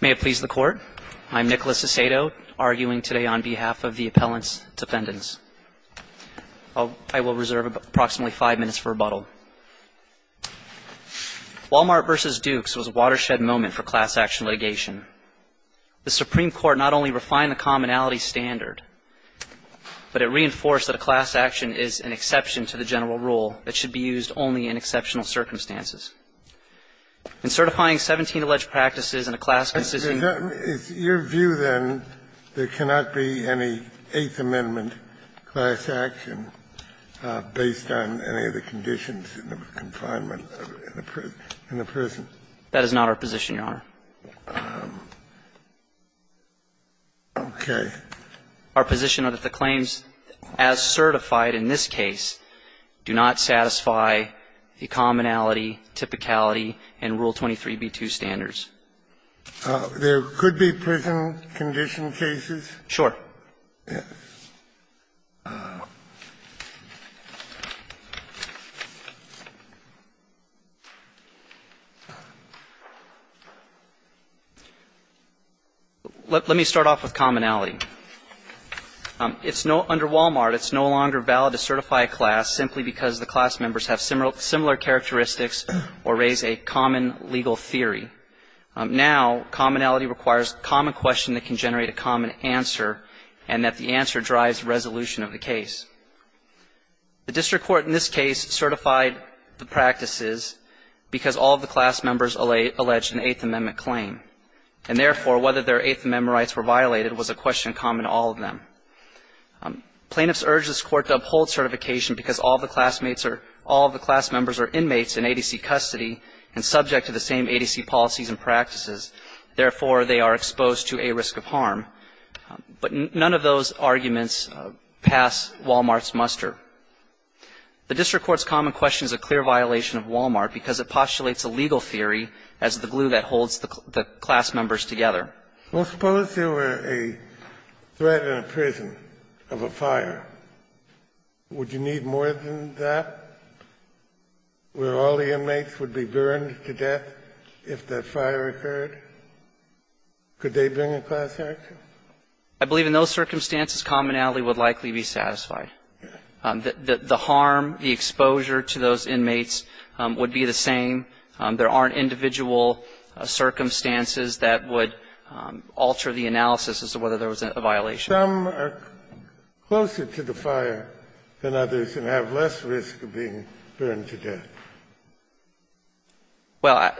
May it please the Court, I'm Nicholas Acedo, arguing today on behalf of the Appellant's Defendants. I will reserve approximately five minutes for rebuttal. Wal-Mart v. Dukes was a watershed moment for class action litigation. The Supreme Court not only refined the commonality standard, but it reinforced that a class action is an exception to the general rule that should be used only in exceptional circumstances. In certifying 17 alleged practices in a class decision that is not our position, Your Honor. Our position is that the claims as certified in this case do not satisfy the commonality standard. There could be prison condition cases. Sure. Let me start off with commonality. It's no longer valid to certify a class simply because the class members have similar characteristics or raise a common legal theory. Now, commonality requires a common question that can generate a common answer and that the answer drives resolution of the case. The district court in this case certified the practices because all of the class members alleged an Eighth Amendment claim. And therefore, whether their Eighth Amendment rights were violated was a question common to all of them. Plaintiffs urge this Court to uphold certification because all of the classmates are – all of the class members are inmates in ADC custody and subject to the same ADC policies and practices. Therefore, they are exposed to a risk of harm. But none of those arguments pass Wal-Mart's muster. The district court's common question is a clear violation of Wal-Mart because it postulates a legal theory as the glue that holds the class members together. Well, suppose there were a threat in a prison of a fire. Would you need more than that? Where all the inmates would be burned to death if that fire occurred? Could they bring a class action? I believe in those circumstances commonality would likely be satisfied. The harm, the exposure to those inmates would be the same. There aren't individual circumstances that would alter the analysis as to whether there was a violation. Some are closer to the fire than others and have less risk of being burned to death. Well,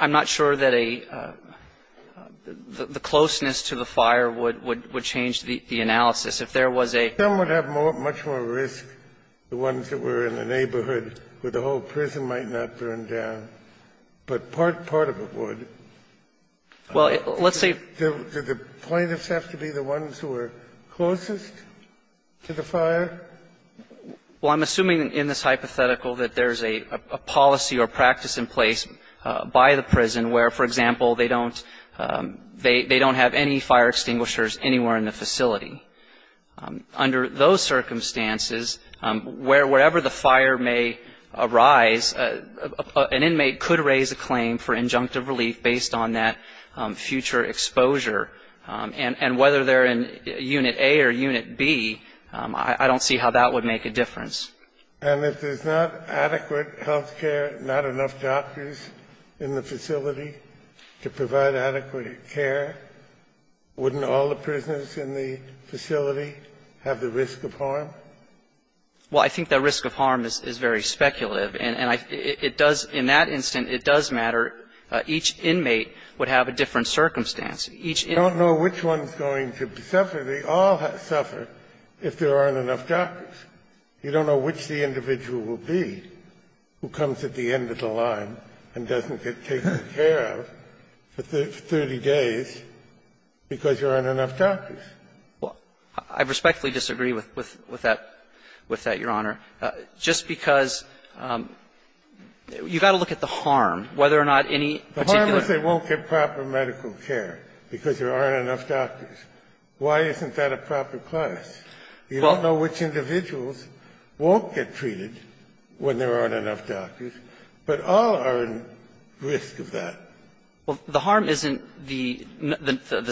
I'm not sure that a – the closeness to the fire would change the analysis. If there was a – Some would have more – much more risk, the ones that were in the neighborhood where the whole prison might not burn down. But part of it would. Well, let's say – Do the plaintiffs have to be the ones who are closest to the fire? Well, I'm assuming in this hypothetical that there's a policy or practice in place by the prison where, for example, they don't – they don't have any fire extinguishers anywhere in the facility. Under those circumstances, wherever the fire may arise, an inmate could raise a claim for injunctive relief based on that future exposure. And whether they're in Unit A or Unit B, I don't see how that would make a difference. And if there's not adequate health care, not enough doctors in the facility to provide adequate care, wouldn't all the prisoners in the facility have the risk of harm? Well, I think that risk of harm is very speculative. And I – it does – in that instance, it does matter. Each inmate would have a different circumstance. Each inmate – You don't know which one's going to suffer. They all suffer if there aren't enough doctors. You don't know which the individual will be who comes at the end of the line and doesn't get taken care of for 30 days because there aren't enough doctors. Well, I respectfully disagree with that, Your Honor, just because you've got to look at the harm, whether or not any particular – The harm is they won't get proper medical care because there aren't enough doctors. Why isn't that a proper class? You don't know which individuals won't get treated when there aren't enough doctors. But all are at risk of that. Well, the harm isn't the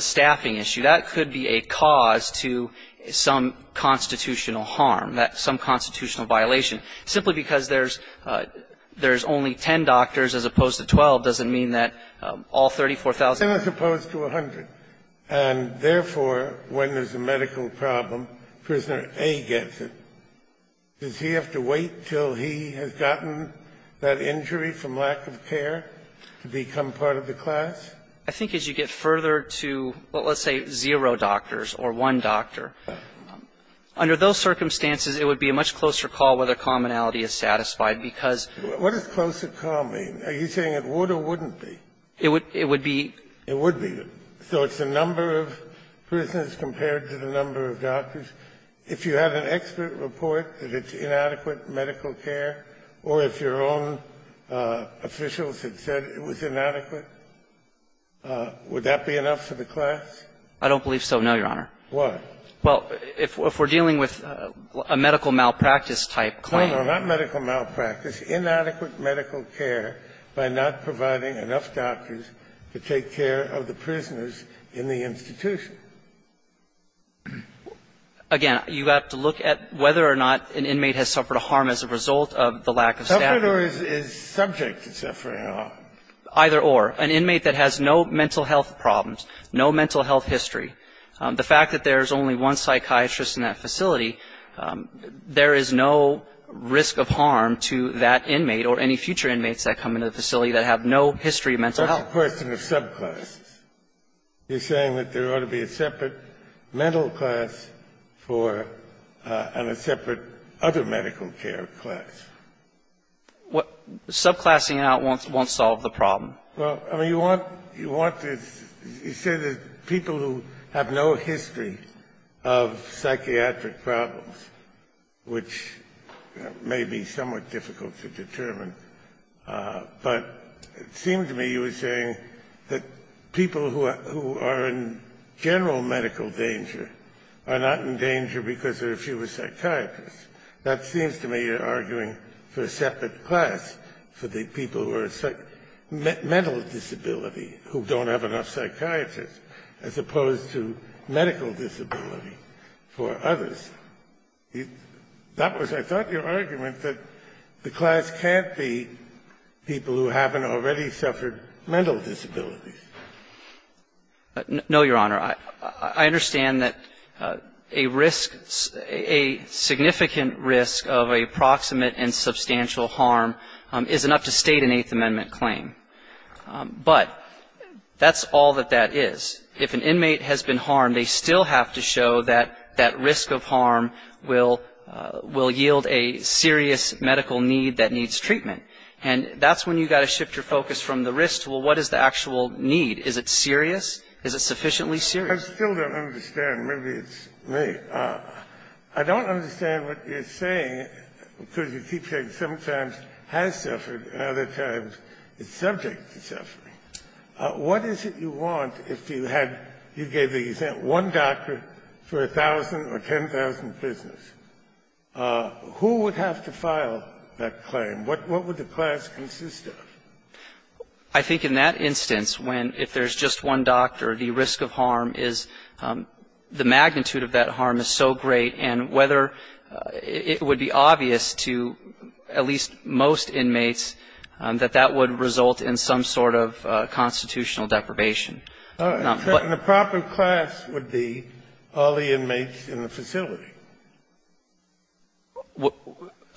staffing issue. That could be a cause to some constitutional harm, some constitutional violation. Simply because there's only 10 doctors as opposed to 12 doesn't mean that all 34,000 – 10 as opposed to 100. And therefore, when there's a medical problem, Prisoner A gets it. Does he have to wait until he has gotten that injury from lack of care to become part of the class? I think as you get further to, well, let's say zero doctors or one doctor, under those circumstances, it would be a much closer call whether commonality is satisfied, because – What does closer call mean? Are you saying it would or wouldn't be? It would be – So it's the number of prisoners compared to the number of doctors. If you had an expert report that it's inadequate medical care, or if your own officials had said it was inadequate, would that be enough for the class? I don't believe so, no, Your Honor. Why? Well, if we're dealing with a medical malpractice type claim – No, no, not medical malpractice. Inadequate medical care by not providing enough doctors to take care of the prisoners in the institution. Again, you have to look at whether or not an inmate has suffered a harm as a result of the lack of staffing. Suffered or is subject to suffering harm. Either or. An inmate that has no mental health problems, no mental health history. The fact that there is only one psychiatrist in that facility, there is no risk of harm to that inmate or any future inmates that come into the facility that have no history of mental health. That's a question of subclasses. You're saying that there ought to be a separate mental class for – and a separate other medical care class. Subclassing it out won't solve the problem. Well, I mean, you want to – you say that people who have no history of psychiatric problems, which may be somewhat difficult to determine, but it seemed to me you were arguing that people who are in general medical danger are not in danger because there are fewer psychiatrists. That seems to me you're arguing for a separate class for the people who are – mental disability who don't have enough psychiatrists, as opposed to medical disability for others. That was, I thought, your argument that the class can't be people who haven't already suffered mental disabilities. No, Your Honor. I understand that a risk – a significant risk of a proximate and substantial harm is enough to state an Eighth Amendment claim. But that's all that that is. If an inmate has been harmed, they still have to show that that risk of harm will – will yield a serious medical need that needs treatment. And that's when you've got to shift your focus from the risk to, well, what is the actual need? Is it serious? Is it sufficiently serious? I still don't understand. Maybe it's me. I don't understand what you're saying, because you keep saying sometimes has suffered and other times it's subject to suffering. What is it you want if you had – you gave the example, one doctor for a thousand or ten thousand prisoners? Who would have to file that claim? What would the class consist of? I think in that instance, when if there's just one doctor, the risk of harm is – the magnitude of that harm is so great, and whether it would be obvious to at least most inmates that that would result in some sort of constitutional deprivation. The proper class would be all the inmates in the facility.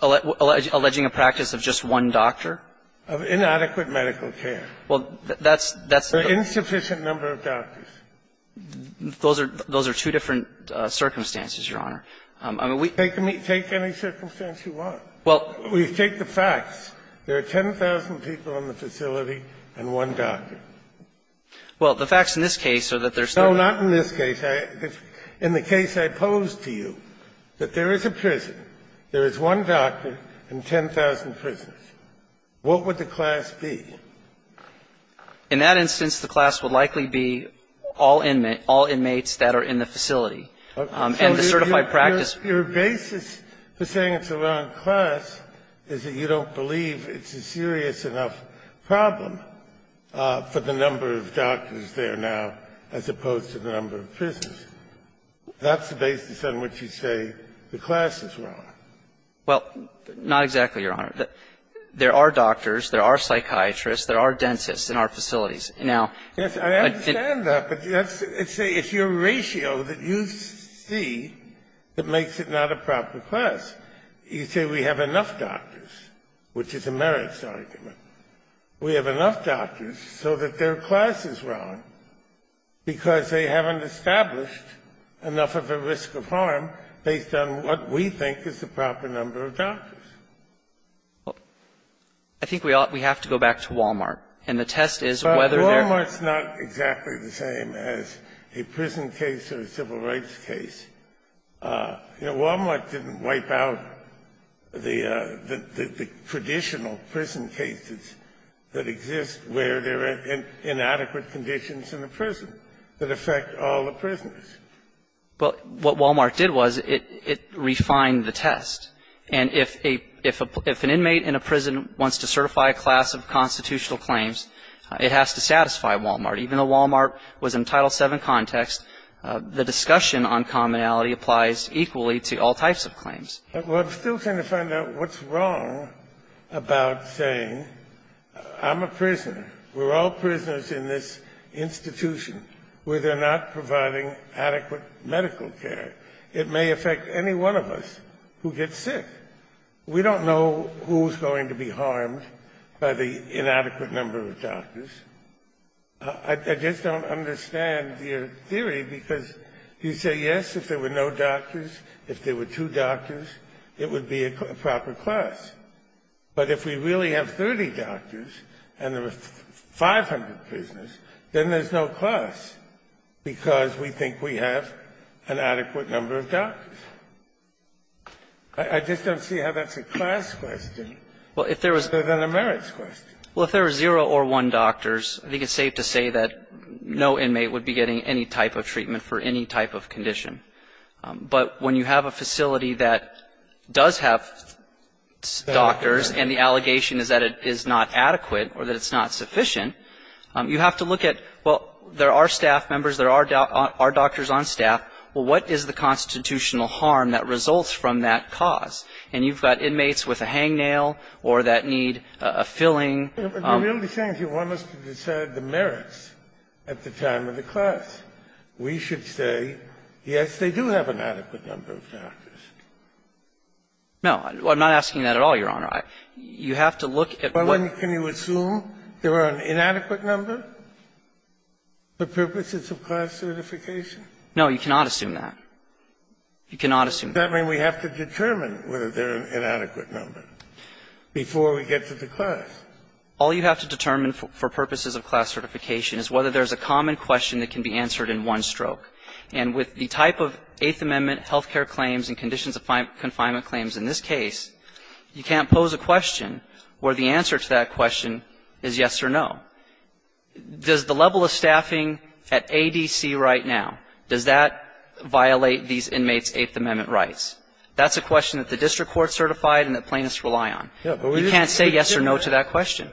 Alleging a practice of just one doctor? Of inadequate medical care. Well, that's – that's the – An insufficient number of doctors. Those are – those are two different circumstances, Your Honor. I mean, we – Take any circumstance you want. Well – We take the facts. There are 10,000 people in the facility and one doctor. Well, the facts in this case are that there's – No, not in this case. In the case I – in the case I pose to you, that there is a prison. There is one doctor and 10,000 prisoners. What would the class be? In that instance, the class would likely be all inmates – all inmates that are in the facility. And the certified practice – Your basis for saying it's the wrong class is that you don't believe it's a serious enough problem for the number of doctors there now as opposed to the number of prisoners. That's the basis on which you say the class is wrong. Well, not exactly, Your Honor. There are doctors, there are psychiatrists, there are dentists in our facilities. Now – Yes, I understand that, but that's – it's a – it's your ratio that you see that makes it not a proper class. You say we have enough doctors, which is a merits argument. We have enough doctors so that their class is wrong because they haven't established enough of a risk of harm based on what we think is the proper number of doctors. Well, I think we ought – we have to go back to Walmart. And the test is whether they're – Well, Walmart's not exactly the same as a prison case or a civil rights case. You know, Walmart didn't wipe out the traditional prison cases that exist where there are inadequate conditions in a prison that affect all the prisoners. Well, what Walmart did was it refined the test. And if a – if an inmate in a prison wants to certify a class of constitutional claims, it has to satisfy Walmart. Even though Walmart was in Title VII context, the discussion on commonality applies equally to all types of claims. Well, I'm still trying to find out what's wrong about saying I'm a prisoner. We're all prisoners in this institution where they're not providing adequate medical care. It may affect any one of us who gets sick. We don't know who's going to be harmed by the inadequate number of doctors. I just don't understand your theory, because you say, yes, if there were no doctors, if there were two doctors, it would be a proper class. But if we really have 30 doctors and there are 500 prisoners, then there's no class, because we think we have an adequate number of doctors. I just don't see how that's a class question other than a merits question. Well, if there were zero or one doctors, I think it's safe to say that no inmate would be getting any type of treatment for any type of condition. But when you have a facility that does have doctors and the allegation is that it is not adequate or that it's not sufficient, you have to look at, well, there are staff members, there are doctors on staff. Well, what is the constitutional harm that results from that cause? And you've got inmates with a hangnail or that need a filling. You're really saying you want us to decide the merits at the time of the class. We should say, yes, they do have an adequate number of doctors. No. I'm not asking that at all, Your Honor. You have to look at what you assume there are an inadequate number for purposes of class certification. No, you cannot assume that. You cannot assume that. But does that mean we have to determine whether they're an inadequate number before we get to the class? All you have to determine for purposes of class certification is whether there's a common question that can be answered in one stroke. And with the type of Eighth Amendment health care claims and conditions of confinement claims in this case, you can't pose a question where the answer to that question is yes or no. Does the level of staffing at ADC right now, does that violate these inmates' Eighth Amendment rights? That's a question that the district court certified and that plaintiffs rely on. You can't say yes or no to that question.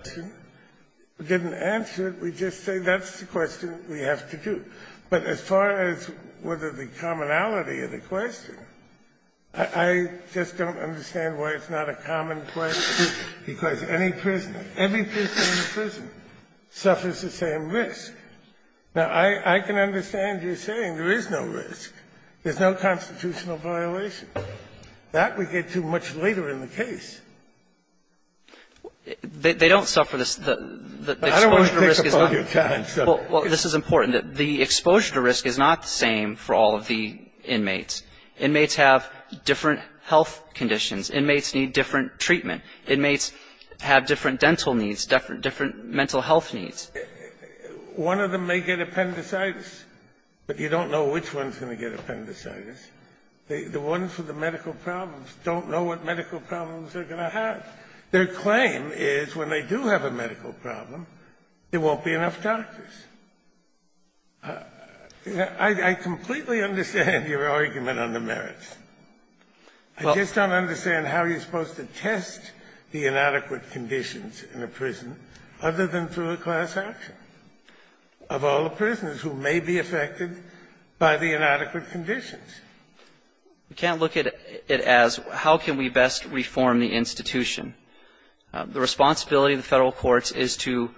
We didn't answer it. We just say that's the question we have to do. But as far as whether the commonality of the question, I just don't understand why it's not a common question, because any prisoner, every prisoner in prison suffers the same risk. Now, I can understand you saying there is no risk. There's no constitutional violation. That we get to much later in the case. They don't suffer the exposure to risk. I don't want to pick up on your challenge, sir. Well, this is important. The exposure to risk is not the same for all of the inmates. Inmates have different health conditions. Inmates need different treatment. Inmates have different dental needs, different mental health needs. One of them may get appendicitis, but you don't know which one's going to get appendicitis. The ones with the medical problems don't know what medical problems they're going to have. Their claim is when they do have a medical problem, there won't be enough doctors. I completely understand your argument on the merits. I just don't understand how you're supposed to test the inadequate conditions in a prison other than through a class action of all the prisoners who may be affected by the inadequate conditions. We can't look at it as how can we best reform the institution. The responsibility of the Federal courts is to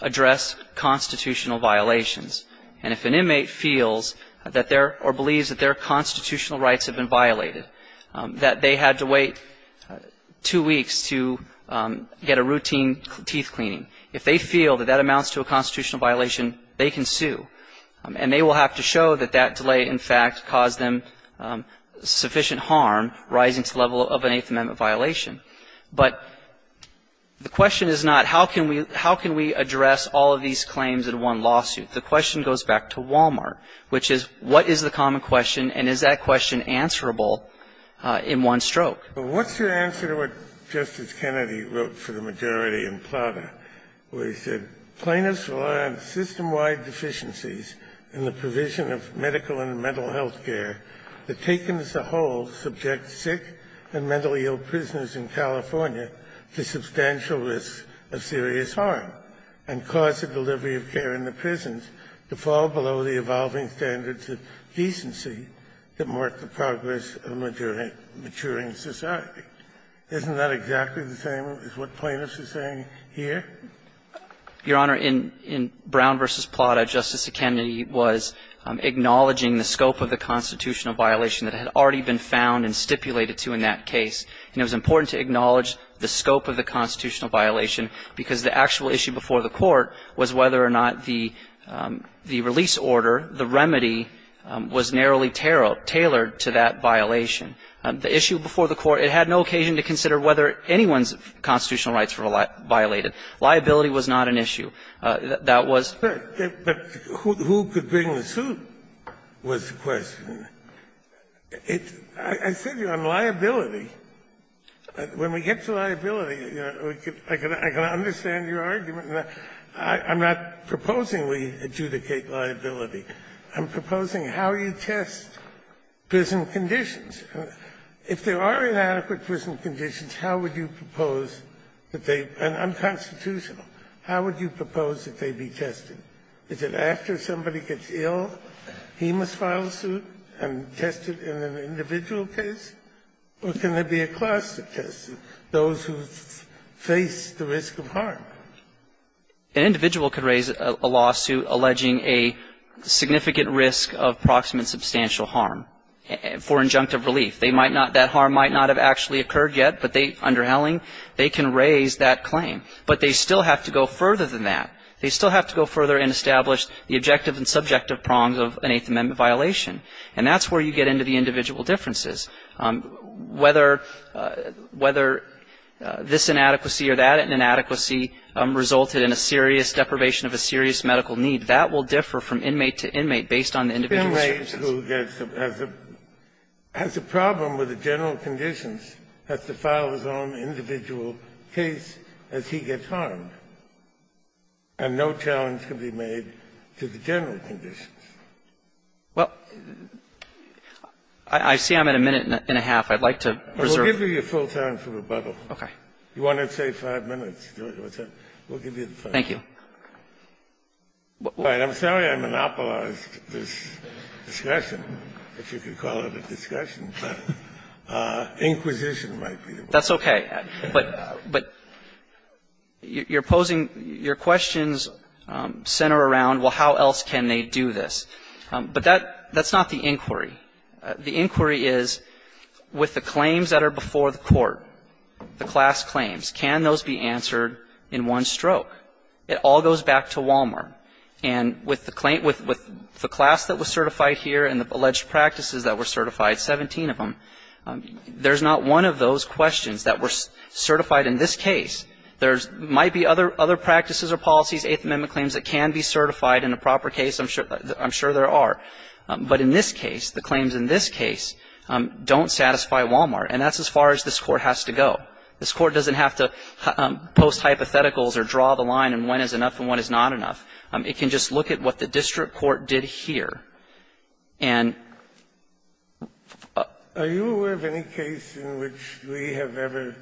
address constitutional violations. And if an inmate feels that their or believes that their constitutional rights have been violated, that they had to wait two weeks to get a routine teeth cleaning. If they feel that that amounts to a constitutional violation, they can sue. And they will have to show that that delay, in fact, caused them sufficient harm, rising to the level of an Eighth Amendment violation. But the question is not how can we address all of these claims in one lawsuit? The question goes back to Walmart, which is what is the common question, and is that question answerable in one stroke? Kennedy wrote for the majority in Plata, where he said, Plaintiffs rely on system-wide deficiencies in the provision of medical and mental health care that, taken as a whole, subject sick and mentally ill prisoners in California to substantial risks of serious harm, and cause the delivery of care in the prisons to fall below the evolving standards of decency that mark the progress of maturing society. Isn't that exactly the same as what plaintiffs are saying here? Your Honor, in Brown v. Plata, Justice Kennedy was acknowledging the scope of the constitutional violation that had already been found and stipulated to in that case. And it was important to acknowledge the scope of the constitutional violation, because the actual issue before the Court was whether or not the release order, the remedy, was narrowly tailored to that violation. The issue before the Court, it had no occasion to consider whether anyone's constitutional rights were violated. Liability was not an issue. That was the question. Kennedy, but who could bring the suit was the question. I said, you know, on liability, when we get to liability, you know, I can only go back and I can understand your argument, and I'm not proposing we adjudicate liability. I'm proposing how you test prison conditions. If there are inadequate prison conditions, how would you propose that they be? And unconstitutional. How would you propose that they be tested? Is it after somebody gets ill, he must file a suit and test it in an individual case? Or can there be a class to test it, those who face the risk of harm? An individual could raise a lawsuit alleging a significant risk of proximate substantial harm for injunctive relief. They might not — that harm might not have actually occurred yet, but they — under Helling, they can raise that claim. But they still have to go further than that. They still have to go further and establish the objective and subjective prongs of an Eighth Amendment violation. And that's where you get into the individual differences. Whether — whether this inadequacy or that inadequacy resulted in a serious deprivation of a serious medical need, that will differ from inmate to inmate, based on the individual circumstances. Kennedy, who gets a — has a problem with the general conditions, has to file his own individual case as he gets harmed, and no challenge can be made to the general conditions. Well, I see I'm at a minute and a half. I'd like to reserve — We'll give you your full time for rebuttal. Okay. You wanted to say five minutes. We'll give you the five minutes. Thank you. I'm sorry I monopolized this discussion, if you could call it a discussion. Inquisition might be the word. That's okay. But — but you're posing — your questions center around, well, how else can they do this? But that — that's not the inquiry. The inquiry is, with the claims that are before the court, the class claims, can those be answered in one stroke? It all goes back to Walmart. And with the — with the class that was certified here and the alleged practices that were certified, 17 of them, there's not one of those questions that were certified in this case. There might be other — other practices or policies, Eighth Amendment claims, that can be certified in a proper case. I'm sure — I'm sure there are. But in this case, the claims in this case don't satisfy Walmart. And that's as far as this Court has to go. This Court doesn't have to post hypotheticals or draw the line in when is enough and when is not enough. It can just look at what the district court did here and — Are you aware of any case in which we have ever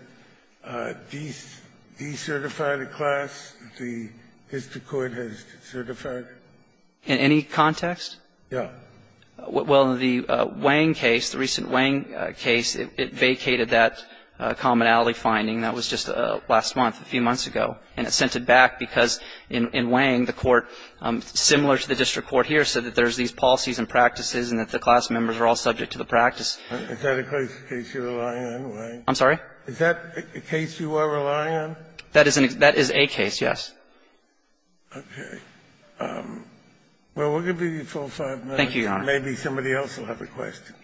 decertified a class that the district court has certified? In any context? Yeah. Well, the Wang case, the recent Wang case, it vacated that commonality finding. That was just last month, a few months ago. And it's sent it back because in Wang, the court, similar to the district court here, said that there's these policies and practices and that the class members are all subject to the practice. Is that a case you're relying on, Wang? I'm sorry? Is that a case you are relying on? That is a case, yes. Okay. Well, we'll give you the full five minutes. Thank you, Your Honor. Maybe somebody else will have a question.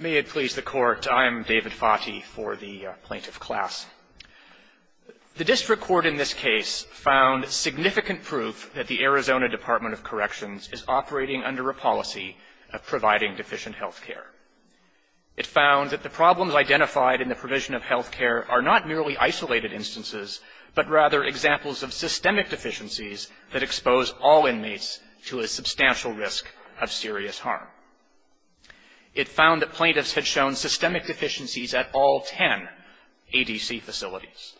May it please the Court. I am David Fati for the plaintiff class. The district court in this case found significant proof that the Arizona Department of Corrections is operating under a policy of providing deficient health care. It found that the problems identified in the provision of health care are not merely isolated instances, but rather examples of systemic deficiencies that expose all inmates to a substantial risk of serious harm. It found that plaintiffs had shown systemic deficiencies at all 10 ADC facilities.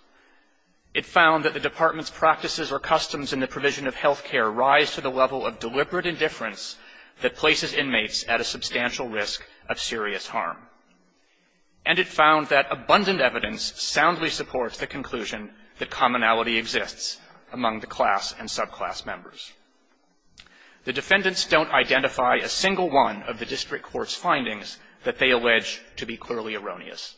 It found that the department's practices or customs in the provision of health care arise to the level of deliberate indifference that places inmates at a substantial risk of serious harm. And it found that abundant evidence soundly supports the conclusion that commonality exists among the class and subclass members. The defendants don't identify a single one of the district court's findings that they allege to be clearly erroneous.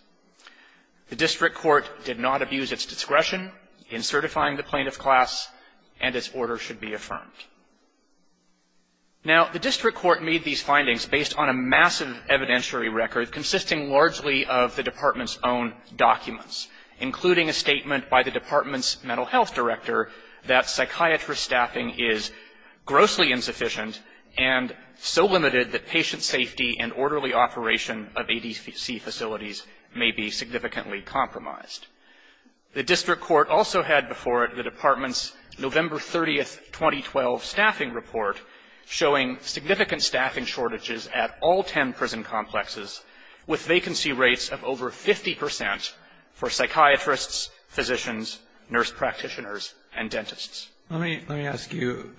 The district court did not abuse its discretion in certifying the plaintiff class, and its findings were not confirmed. Now the district court made these findings based on a massive evidentiary record consisting largely of the department's own documents, including a statement by the department's mental health director that psychiatrist staffing is grossly insufficient and so limited that patient safety and orderly operation of ADC facilities may be significantly compromised. The district court also had before it the department's November 30, 2012, staffing report showing significant staffing shortages at all 10 prison complexes, with vacancy rates of over 50 percent for psychiatrists, physicians, nurse practitioners, and dentists. Roberts, let me ask you,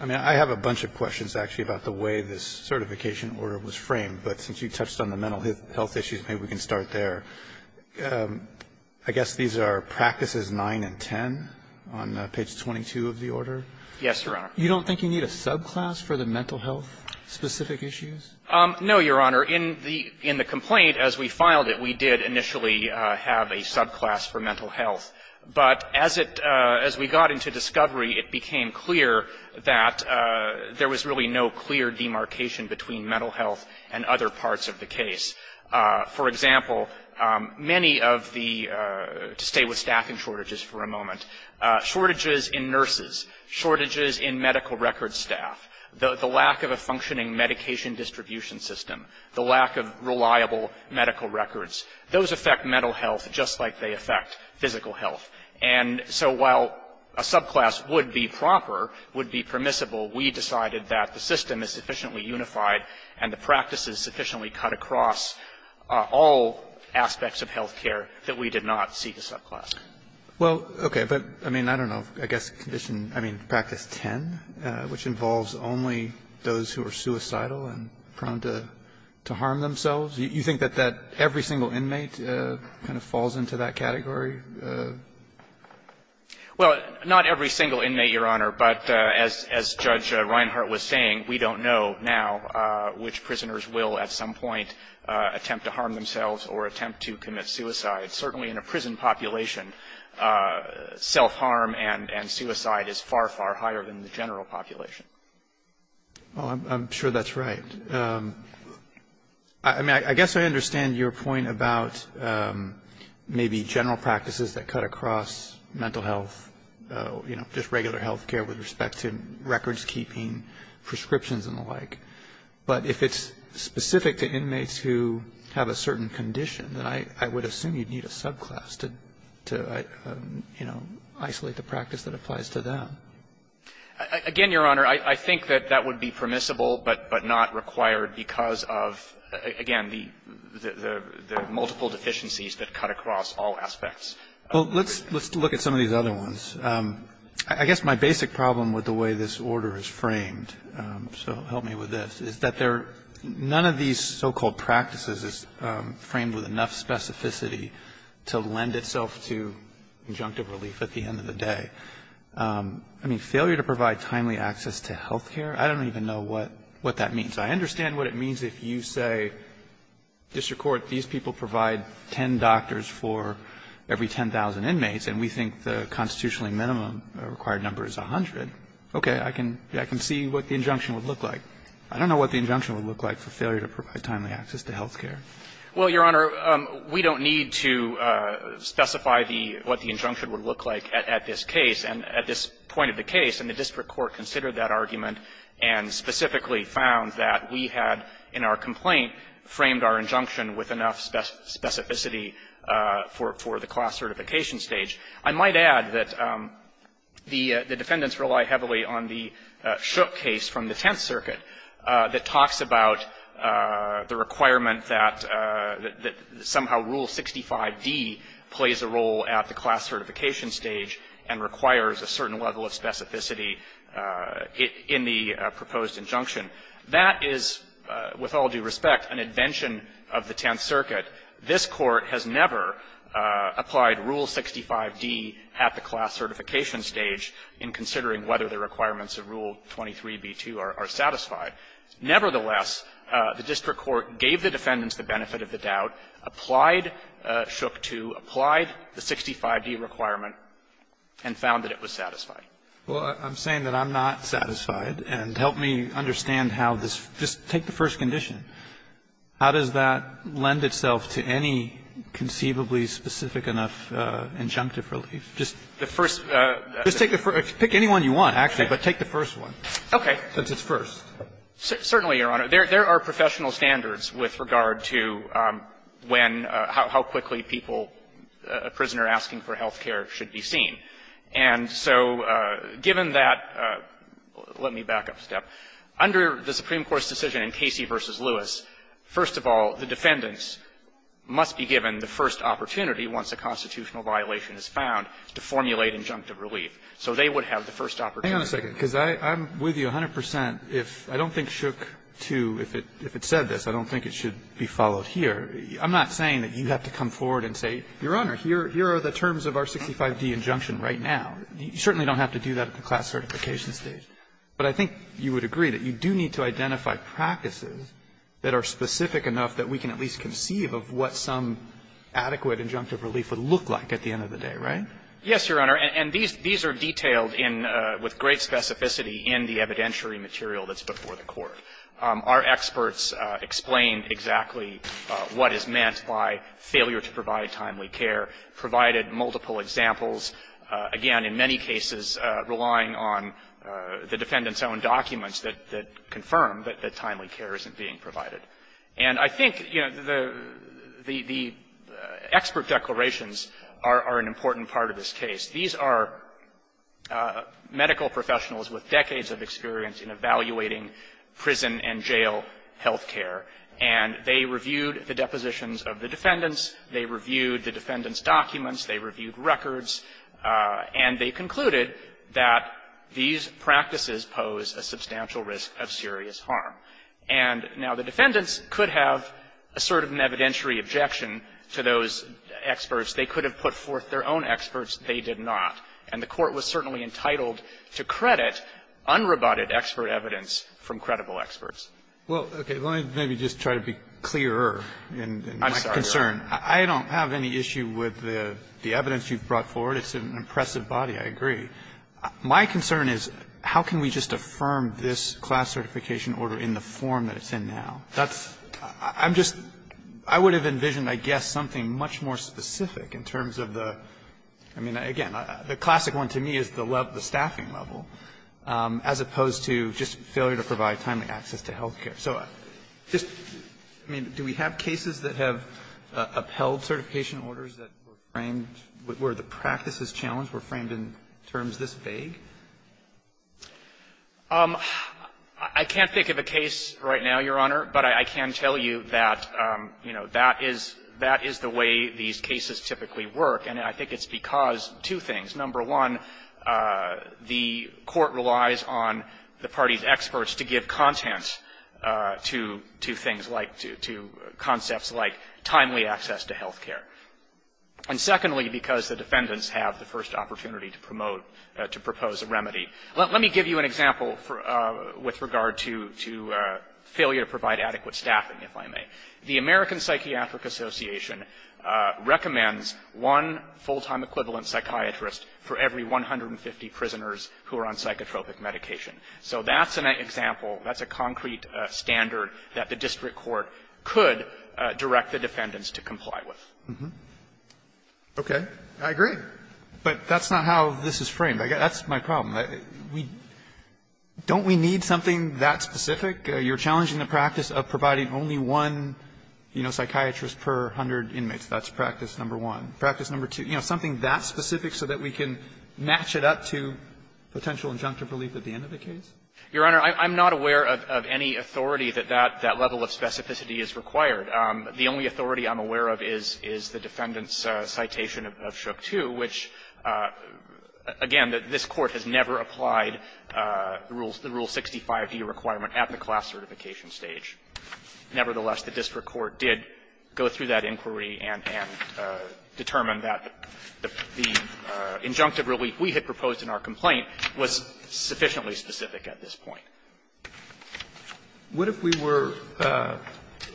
I mean, I have a bunch of questions, actually, about the way this certification order was framed. But since you touched on the mental health issues, maybe we can start there. I guess these are Practices 9 and 10 on page 22 of the order? Yes, Your Honor. You don't think you need a subclass for the mental health-specific issues? No, Your Honor. In the complaint, as we filed it, we did initially have a subclass for mental health. But as it as we got into discovery, it became clear that there was really no clear demarcation between mental health and other parts of the case. For example, many of the, to stay with staffing shortages for a moment, shortages in nurses, shortages in medical records staff, the lack of a functioning medication distribution system, the lack of reliable medical records, those affect mental health just like they affect physical health. And so while a subclass would be proper, would be permissible, we decided that the subclass would address all aspects of health care that we did not see the subclass. Well, okay, but I mean, I don't know. I guess Condition, I mean, Practice 10, which involves only those who are suicidal and prone to harm themselves, you think that every single inmate kind of falls into that category? Well, not every single inmate, Your Honor. But as Judge Reinhart was saying, we don't know now which prisoners will at some point attempt to harm themselves or attempt to commit suicide. Certainly in a prison population, self-harm and suicide is far, far higher than the general population. Well, I'm sure that's right. I mean, I guess I understand your point about maybe general practices that cut across mental health, you know, just regular health care with respect to records keeping, prescriptions and the like. But if it's specific to inmates who have a certain condition, then I would assume you'd need a subclass to, you know, isolate the practice that applies to them. Again, Your Honor, I think that that would be permissible but not required because of, again, the multiple deficiencies that cut across all aspects of health care. Well, let's look at some of these other ones. I guess my basic problem with the way this order is framed, so help me with this. Is that there are none of these so-called practices is framed with enough specificity to lend itself to injunctive relief at the end of the day. I mean, failure to provide timely access to health care, I don't even know what that means. I understand what it means if you say, District Court, these people provide ten doctors for every 10,000 inmates and we think the constitutionally minimum required number is 100. Okay. I can see what the injunction would look like. I don't know what the injunction would look like for failure to provide timely access to health care. Well, Your Honor, we don't need to specify the what the injunction would look like at this case. And at this point of the case, and the district court considered that argument and specifically found that we had in our complaint framed our injunction with enough specificity for the class certification stage. I might add that the defendants rely heavily on the Shook case from the Tenth Circuit. That talks about the requirement that somehow Rule 65d plays a role at the class certification stage and requires a certain level of specificity in the proposed injunction. That is, with all due respect, an invention of the Tenth Circuit. This Court has never applied Rule 65d at the class certification stage in considering whether the requirements of Rule 23b2 are satisfied. Nevertheless, the district court gave the defendants the benefit of the doubt, applied Shook to, applied the 65d requirement, and found that it was satisfied. Well, I'm saying that I'm not satisfied. And help me understand how this just take the first condition. How does that lend itself to any conceivably specific enough injunctive relief? Just the first. Just take the first. Pick any one you want, actually, but take the first one. Okay. Since it's first. Certainly, Your Honor. There are professional standards with regard to when, how quickly people, a prisoner asking for health care should be seen. And so given that, let me back up a step. Under the Supreme Court's decision in Casey v. Lewis, first of all, the defendants must be given the first opportunity once a constitutional violation is found to formulate an adequate injunctive relief. So they would have the first opportunity. Hang on a second, because I'm with you 100 percent. If I don't think Shook to, if it said this, I don't think it should be followed here. I'm not saying that you have to come forward and say, Your Honor, here are the terms of our 65d injunction right now. You certainly don't have to do that at the class certification stage. But I think you would agree that you do need to identify practices that are specific enough that we can at least conceive of what some adequate injunctive relief would look like at the end of the day, right? Yes, Your Honor. And these are detailed in the – with great specificity in the evidentiary material that's before the Court. Our experts explain exactly what is meant by failure to provide timely care, provided multiple examples, again, in many cases relying on the defendant's own documents that confirm that timely care isn't being provided. And I think, you know, the – the expert declarations are an important part of this case. These are medical professionals with decades of experience in evaluating prison and jail health care. And they reviewed the depositions of the defendants. They reviewed the defendants' documents. They reviewed records. And they concluded that these practices pose a substantial risk of serious harm. And now the defendants could have asserted an evidentiary objection to those experts. They could have put forth their own experts. They did not. And the Court was certainly entitled to credit unroboted expert evidence from credible experts. Well, okay. Let me maybe just try to be clearer in my concern. I'm sorry, Your Honor. I don't have any issue with the evidence you've brought forward. It's an impressive body. I agree. My concern is how can we just affirm this class certification order in the form that it's in now? That's – I'm just – I would have envisioned, I guess, something much more specific in terms of the – I mean, again, the classic one to me is the level – the staffing level, as opposed to just failure to provide timely access to health care. So just – I mean, do we have cases that have upheld certification orders that were the practice's challenge, were framed in terms this vague? I can't think of a case right now, Your Honor. But I can tell you that, you know, that is – that is the way these cases typically work. And I think it's because two things. Number one, the Court relies on the parties' experts to give content to – to things like – to concepts like timely access to health care. And secondly, because the defendants have the first opportunity to promote – to propose a remedy. Let me give you an example for – with regard to – to failure to provide adequate staffing, if I may. The American Psychiatric Association recommends one full-time equivalent psychiatrist for every 150 prisoners who are on psychotropic medication. So that's an example. That's a concrete standard that the district court could direct the defendants to comply with. Mm-hmm. Okay. I agree. But that's not how this is framed. That's my problem. We – don't we need something that specific? You're challenging the practice of providing only one, you know, psychiatrist per 100 inmates. That's practice number one. Practice number two, you know, something that specific so that we can match it up to potential injunctive relief at the end of the case? Your Honor, I'm not aware of any authority that that – that level of specificity is required. The only authority I'm aware of is – is the defendant's citation of Shook II, which, again, this Court has never applied the Rule 65e requirement at the class certification stage. Nevertheless, the district court did go through that inquiry and – and determined that the injunctive relief we had proposed in our complaint was sufficiently specific at this point. What if we were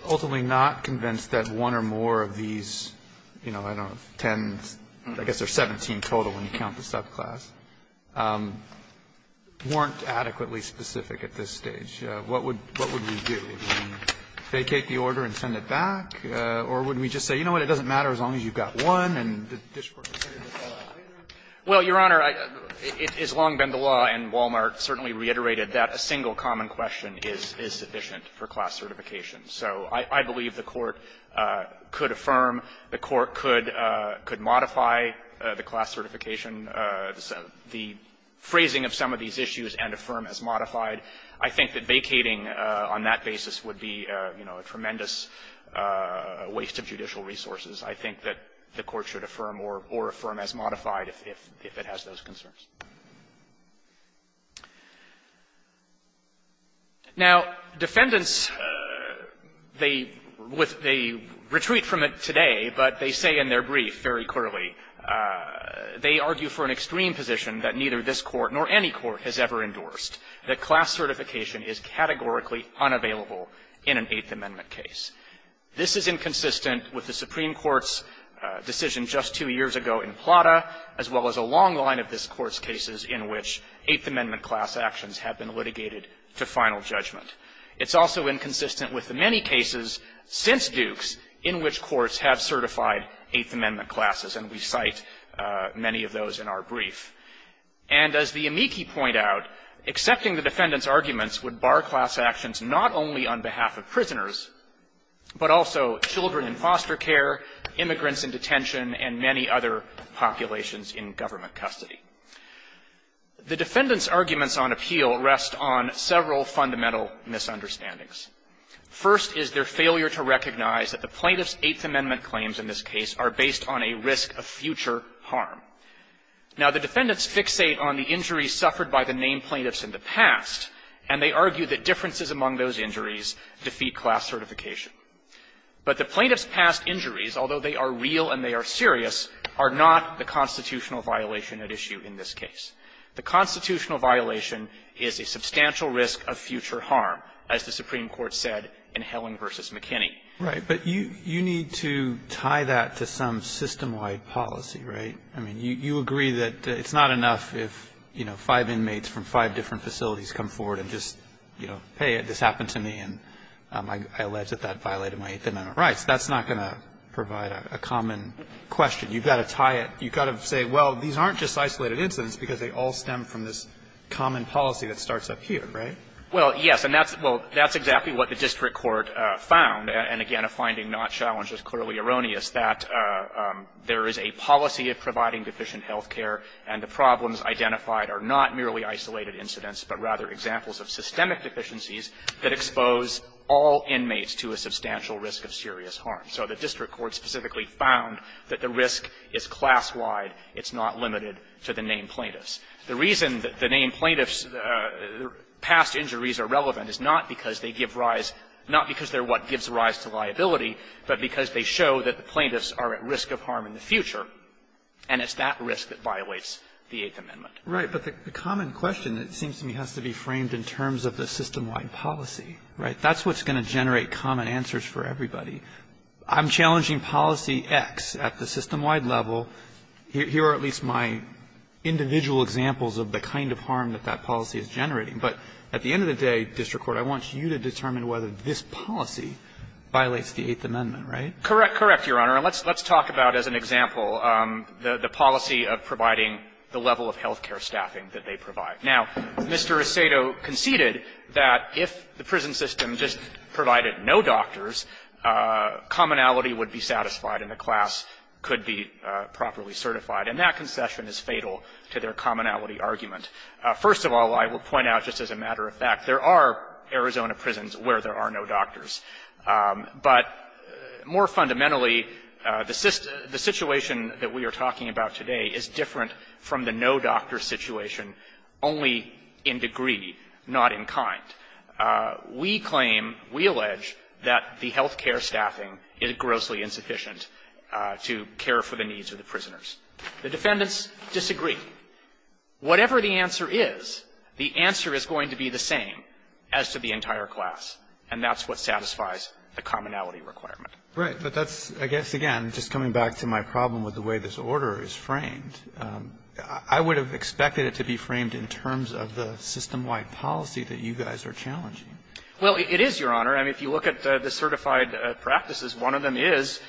ultimately not convinced that one or more of these, you know, I don't know, 10, I guess there's 17 total when you count the subclass, weren't adequately specific at this stage? What would – what would we do? Would we vacate the order and send it back, or would we just say, you know what, it doesn't matter as long as you've got one and the district court decided to follow up later? Well, Your Honor, it has long been the law, and Wal-Mart certainly reiterated that a single common question is – is sufficient for class certification. So I believe the Court could affirm, the Court could – could modify the class certification, the phrasing of some of these issues and affirm as modified. I think that vacating on that basis would be, you know, a tremendous waste of judicial resources. I think that the Court should affirm or – or affirm as modified if it's going to be – if it has those concerns. Now, defendants, they – with – they retreat from it today, but they say in their brief very clearly, they argue for an extreme position that neither this Court nor any court has ever endorsed, that class certification is categorically unavailable in an Eighth Amendment case. This is inconsistent with the Supreme Court's decision just two years ago in Plata, as well as a long line of this Court's cases in which Eighth Amendment class actions have been litigated to final judgment. It's also inconsistent with the many cases since Dukes in which courts have certified Eighth Amendment classes, and we cite many of those in our brief. And as the amici point out, accepting the defendants' arguments would bar class actions not only on behalf of prisoners, but also children in foster care, immigrants in detention, and many other populations in government custody. The defendants' arguments on appeal rest on several fundamental misunderstandings. First is their failure to recognize that the plaintiffs' Eighth Amendment claims in this case are based on a risk of future harm. Now, the defendants fixate on the injuries suffered by the named plaintiffs in the past, and they argue that differences among those injuries defeat class certification. But the plaintiffs' past injuries, although they are real and they are serious, are not the constitutional violation at issue in this case. The constitutional violation is a substantial risk of future harm, as the Supreme Court said in Helling v. McKinney. Roberts. Right. But you need to tie that to some system-wide policy, right? I mean, you agree that it's not enough if, you know, five inmates from five different facilities come forward and just, you know, hey, this happened to me, and I allege that that violated my Eighth Amendment rights. That's not going to provide a common question. You've got to tie it. You've got to say, well, these aren't just isolated incidents, because they all stem from this common policy that starts up here, right? Well, yes. And that's exactly what the district court found. And again, a finding not challenged is clearly erroneous, that there is a policy of providing deficient health care, and the problems identified are not merely isolated incidents, but rather examples of systemic deficiencies that expose all inmates to a substantial risk of serious harm. So the district court specifically found that the risk is class-wide. It's not limited to the named plaintiffs. The reason that the named plaintiffs' past injuries are relevant is not because they give rise to the risk, not because they're what gives rise to liability, but because they show that the plaintiffs are at risk of harm in the future, and it's that risk that violates the Eighth Amendment. Right. But the common question, it seems to me, has to be framed in terms of the system-wide policy, right? That's what's going to generate common answers for everybody. I'm challenging policy X at the system-wide level. Here are at least my individual examples of the kind of harm that that policy is generating. But at the end of the day, district court, I want you to determine whether this policy violates the Eighth Amendment, right? Correct. Correct, Your Honor. And let's talk about, as an example, the policy of providing the level of health care staffing that they provide. Now, Mr. Asado conceded that if the prison system just provided no doctors, commonality would be satisfied and the class could be properly certified, and that concession is fatal to their commonality argument. First of all, I will point out, just as a matter of fact, there are Arizona prisons where there are no doctors. But more fundamentally, the situation that we are talking about today is different from the no doctor situation only in degree, not in kind. We claim we allege that the health care staffing is grossly insufficient to care for the needs of the prisoners. The defendants disagree. Whatever the answer is, the answer is going to be the same as to the entire class. And that's what satisfies the commonality requirement. Right. But that's, I guess, again, just coming back to my problem with the way this order is framed, I would have expected it to be framed in terms of the system-wide policy that you guys are challenging. Well, it is, Your Honor. I mean, if you look at the certified practices, one of them is…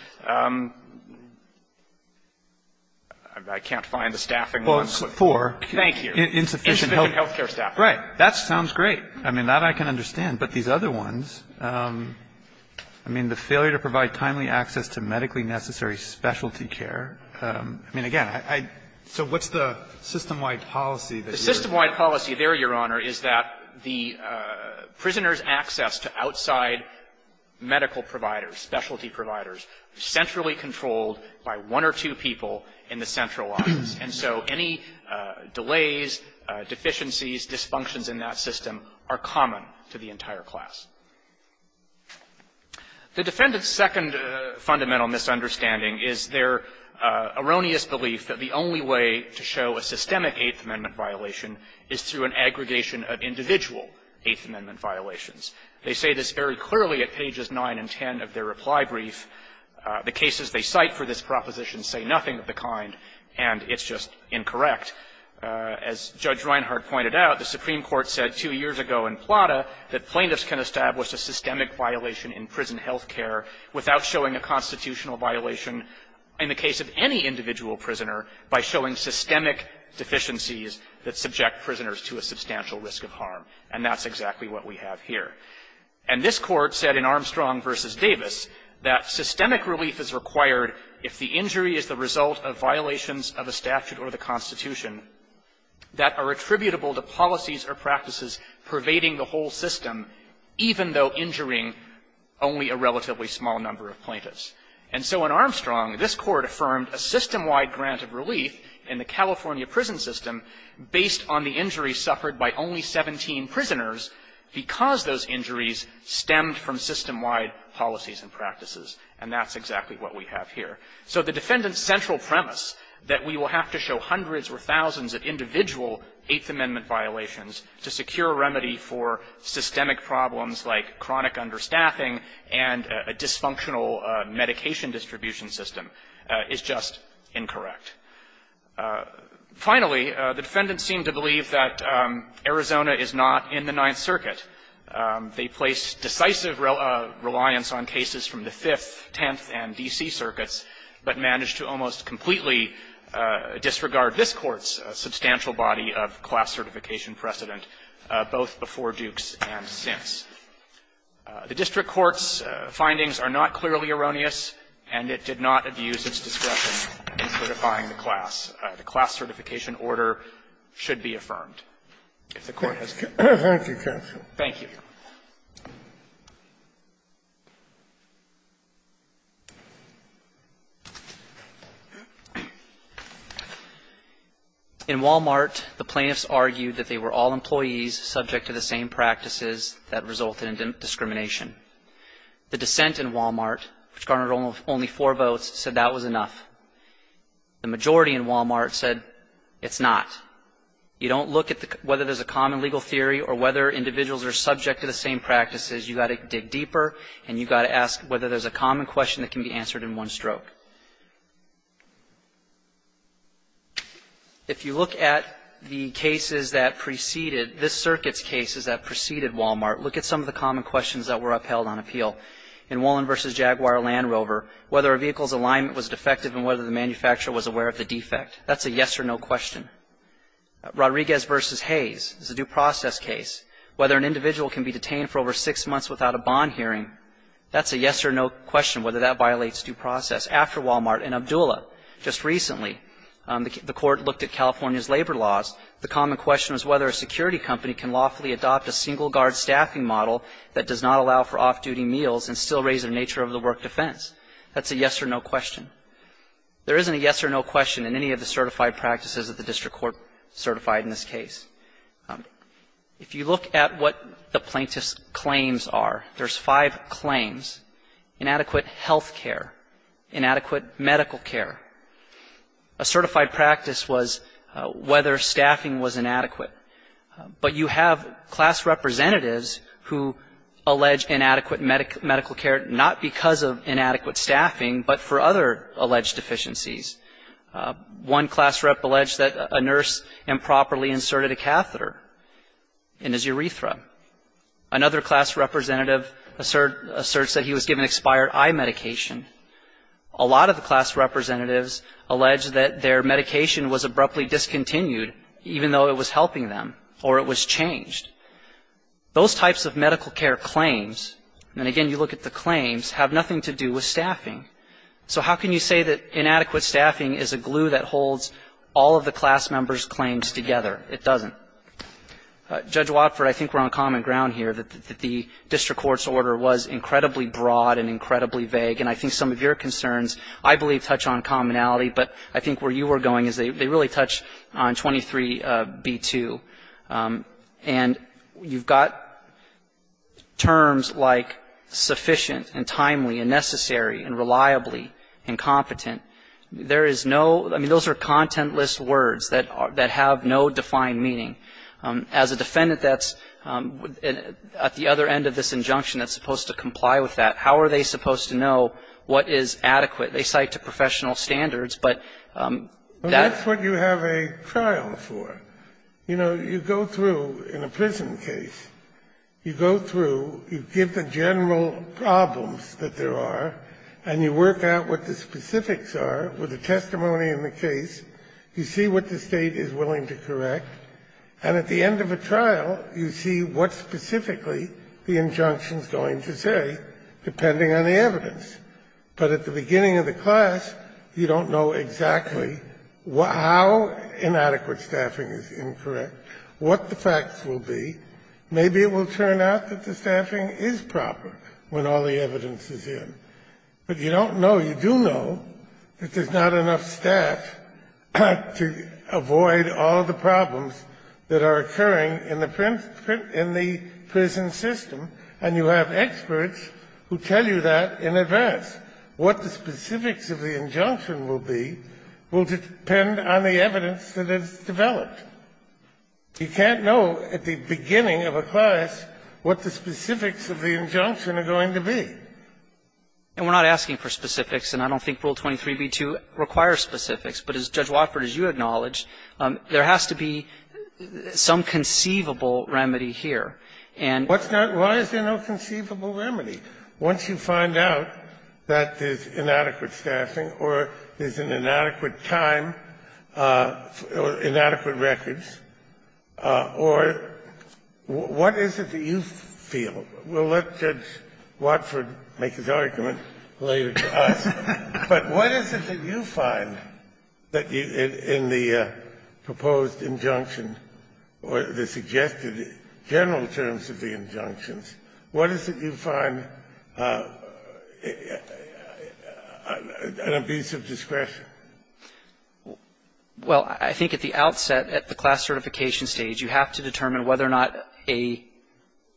I can't find the staffing. Well, it's four. Thank you. Insufficient health care staffing. Right. That sounds great. I mean, that I can understand. But these other ones, I mean, the failure to provide timely access to medically necessary specialty care, I mean, again, I — so what's the system-wide policy that you're… The system-wide policy there, Your Honor, is that the prisoners' access to outside medical providers, specialty providers, is centrally controlled by one or two people in the central office. And so any delays, deficiencies, dysfunctions in that system are common to the entire class. The defendant's second fundamental misunderstanding is their erroneous belief that the only way to show a systemic Eighth Amendment violation is through an aggregation of individual Eighth Amendment violations. They say this very clearly at pages 9 and 10 of their reply brief. The cases they cite for this proposition say nothing of the kind, and it's just incorrect. As Judge Reinhart pointed out, the Supreme Court said two years ago in Plata that plaintiffs can establish a systemic violation in prison health care without showing a constitutional violation in the case of any individual prisoner by showing systemic deficiencies that subject prisoners to a substantial risk of harm. And that's exactly what we have here. And this Court said in Armstrong v. Davis that systemic relief is required if the injury is the result of violations of a statute or the Constitution that are attributable to policies or practices pervading the whole system, even though injuring only a relatively small number of plaintiffs. And so in Armstrong, this Court affirmed a systemwide grant of relief in the California prison system based on the injuries suffered by only 17 prisoners because those injuries stemmed from systemwide policies and practices. And that's exactly what we have here. So the defendant's central premise, that we will have to show hundreds or thousands of individual Eighth Amendment violations to secure a remedy for systemic problems like chronic understaffing and a dysfunctional medication distribution system, is just incorrect. Finally, the defendant seemed to believe that Arizona is not in the Ninth Circuit. They placed decisive reliance on cases from the Fifth, Tenth, and D.C. circuits, but managed to almost completely disregard this Court's substantial body of class certification precedent, both before Dukes and since. The district court's findings are not clearly erroneous, and it did not abuse its discretion in certifying the class. The class certification order should be affirmed, if the Court has concerns. Thank you, counsel. Thank you. In Wal-Mart, the plaintiffs argued that they were all employees subject to the same practices that resulted in discrimination. The dissent in Wal-Mart, which garnered only four votes, said that was enough. The majority of the plaintiffs argued that the majority in Wal-Mart said it's not. You don't look at whether there's a common legal theory or whether individuals are subject to the same practices. You've got to dig deeper, and you've got to ask whether there's a common question that can be answered in one stroke. If you look at the cases that preceded, this Circuit's cases that preceded Wal-Mart, look at some of the common questions that were upheld on appeal. In Wollin v. Jaguar Land Rover, whether a vehicle's alignment was defective and whether the manufacturer was aware of the defect, that's a yes or no question. Rodriguez v. Hayes is a due process case. Whether an individual can be detained for over six months without a bond hearing, that's a yes or no question, whether that violates due process. After Wal-Mart and Abdulla, just recently, the Court looked at California's labor laws. The common question was whether a security company can lawfully adopt a single-guard staffing model that does not allow for off-duty meals and still raise their nature of the work defense. That's a yes or no question. There isn't a yes or no question in any of the certified practices that the district court certified in this case. If you look at what the plaintiff's claims are, there's five claims, inadequate health care, inadequate medical care. A certified practice was whether staffing was inadequate. But you have class representatives who allege inadequate medical care not because of inadequate staffing, but for other alleged deficiencies. One class rep alleged that a nurse improperly inserted a catheter in his urethra. Another class representative asserts that he was given expired eye medication. A lot of the class representatives allege that their medication was abruptly discontinued even though it was helping them or it was changed. Those types of medical care claims and, again, you look at the claims, have nothing to do with staffing. So how can you say that inadequate staffing is a glue that holds all of the class members' claims together? It doesn't. Judge Watford, I think we're on common ground here that the district court's order was incredibly broad and incredibly vague, and I think some of your concerns, I believe, touch on commonality, but I think where you were going is they really touch on 23b-2. And you've got terms like sufficient and timely and necessary and reliably and competent. There is no – I mean, those are contentless words that have no defined meaning. As a defendant that's at the other end of this injunction that's supposed to comply with that, how are they supposed to know what is adequate? They cite to professional standards, but that's what you have to do. You have to have a trial for it. You know, you go through in a prison case, you go through, you give the general problems that there are, and you work out what the specifics are with the testimony in the case. You see what the State is willing to correct, and at the end of a trial, you see what specifically the injunction is going to say, depending on the evidence. But at the beginning of the class, you don't know exactly how inadequate staffing is incorrect, what the facts will be. Maybe it will turn out that the staffing is proper when all the evidence is in. But you don't know. You do know that there's not enough staff to avoid all of the problems that are occurring in the prison system, and you have experts who tell you that in advance. What the specifics of the injunction will be will depend on the evidence that is developed. You can't know at the beginning of a class what the specifics of the injunction are going to be. And we're not asking for specifics, and I don't think Rule 23b2 requires specifics. But as Judge Watford, as you acknowledge, there has to be some conceivable remedy here. And what's not why is there no conceivable remedy? Once you find out that there's inadequate staffing or there's an inadequate time, inadequate records, or what is it that you feel? We'll let Judge Watford make his argument later to us. But what is it that you find that you – in the proposed injunction or the suggested general terms of the injunctions, what is it you find an abuse of discretion? Well, I think at the outset, at the class certification stage, you have to determine whether or not an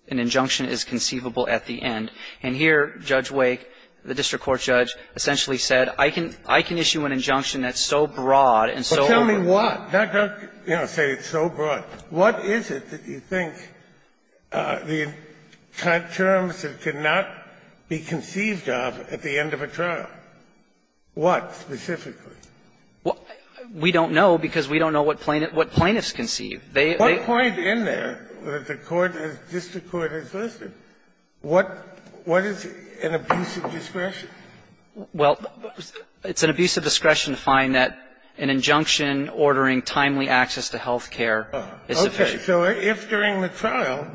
injunction is conceivable at the end. And here, Judge Wake, the district court judge, essentially said, I can issue an injunction that's so broad and so over – But tell me why. Don't say it's so broad. What is it that you think the terms cannot be conceived of at the end of a trial? What specifically? We don't know because we don't know what plaintiffs conceive. What point in there that the district court has listed? What is an abuse of discretion? Well, it's an abuse of discretion to find that an injunction ordering timely access to health care is sufficient. Okay. So if during the trial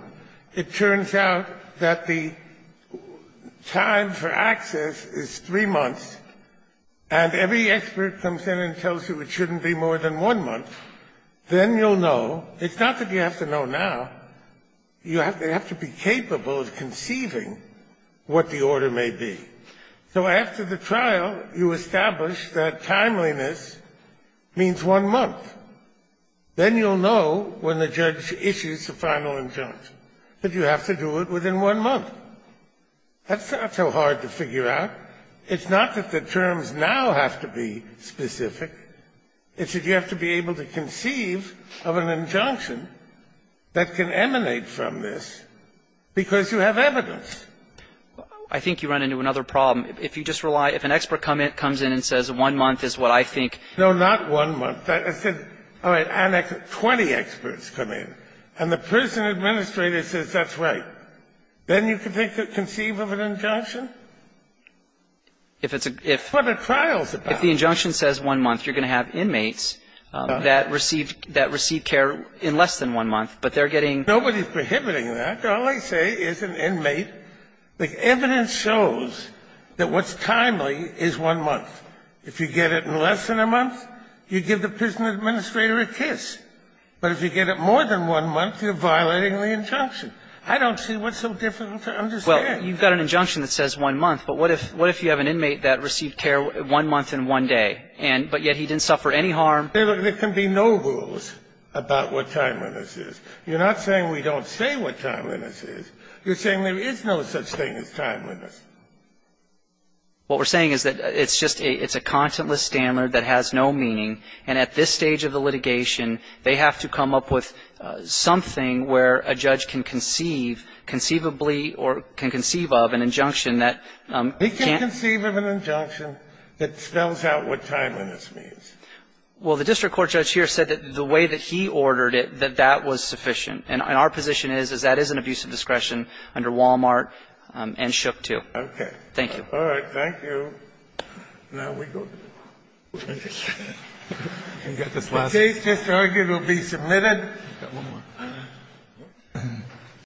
it turns out that the time for access is 3 months and every expert comes in and tells you it shouldn't be more than 1 month, then you'll know It's not that you have to know now. You have to be capable of conceiving what the order may be. So after the trial, you establish that timeliness means 1 month. Then you'll know when the judge issues the final injunct, that you have to do it within 1 month. That's not so hard to figure out. It's not that the terms now have to be specific. It's that you have to be able to conceive of an injunction that can emanate from this because you have evidence. I think you run into another problem. If you just rely If an expert comes in and says 1 month is what I think. No, not 1 month. I said, all right, 20 experts come in, and the prison administrator says that's right, then you can conceive of an injunction? If it's a If it's what a trial is about. If the injunction says 1 month, you're going to have inmates that receive care in less than 1 month, but they're getting Nobody's prohibiting that. All I say is an inmate. The evidence shows that what's timely is 1 month. If you get it in less than a month, you give the prison administrator a kiss. But if you get it more than 1 month, you're violating the injunction. I don't see what's so difficult to understand. Well, you've got an injunction that says 1 month, but what if you have an inmate that received care 1 month and 1 day, but yet he didn't suffer any harm? There can be no rules about what timeliness is. You're not saying we don't say what timeliness is. You're saying there is no such thing as timeliness. What we're saying is that it's a contentless standard that has no meaning, and at this stage of the litigation, they have to come up with something where a judge can conceive conceivably or can conceive of an injunction that He can conceive of an injunction that spells out what timeliness means. Well, the district court judge here said that the way that he ordered it, that that was sufficient. And our position is, is that is an abuse of discretion under Wal-Mart and Shook too. Okay. Thank you. All right. Thank you. Now we go to the case. The case is argued to be submitted.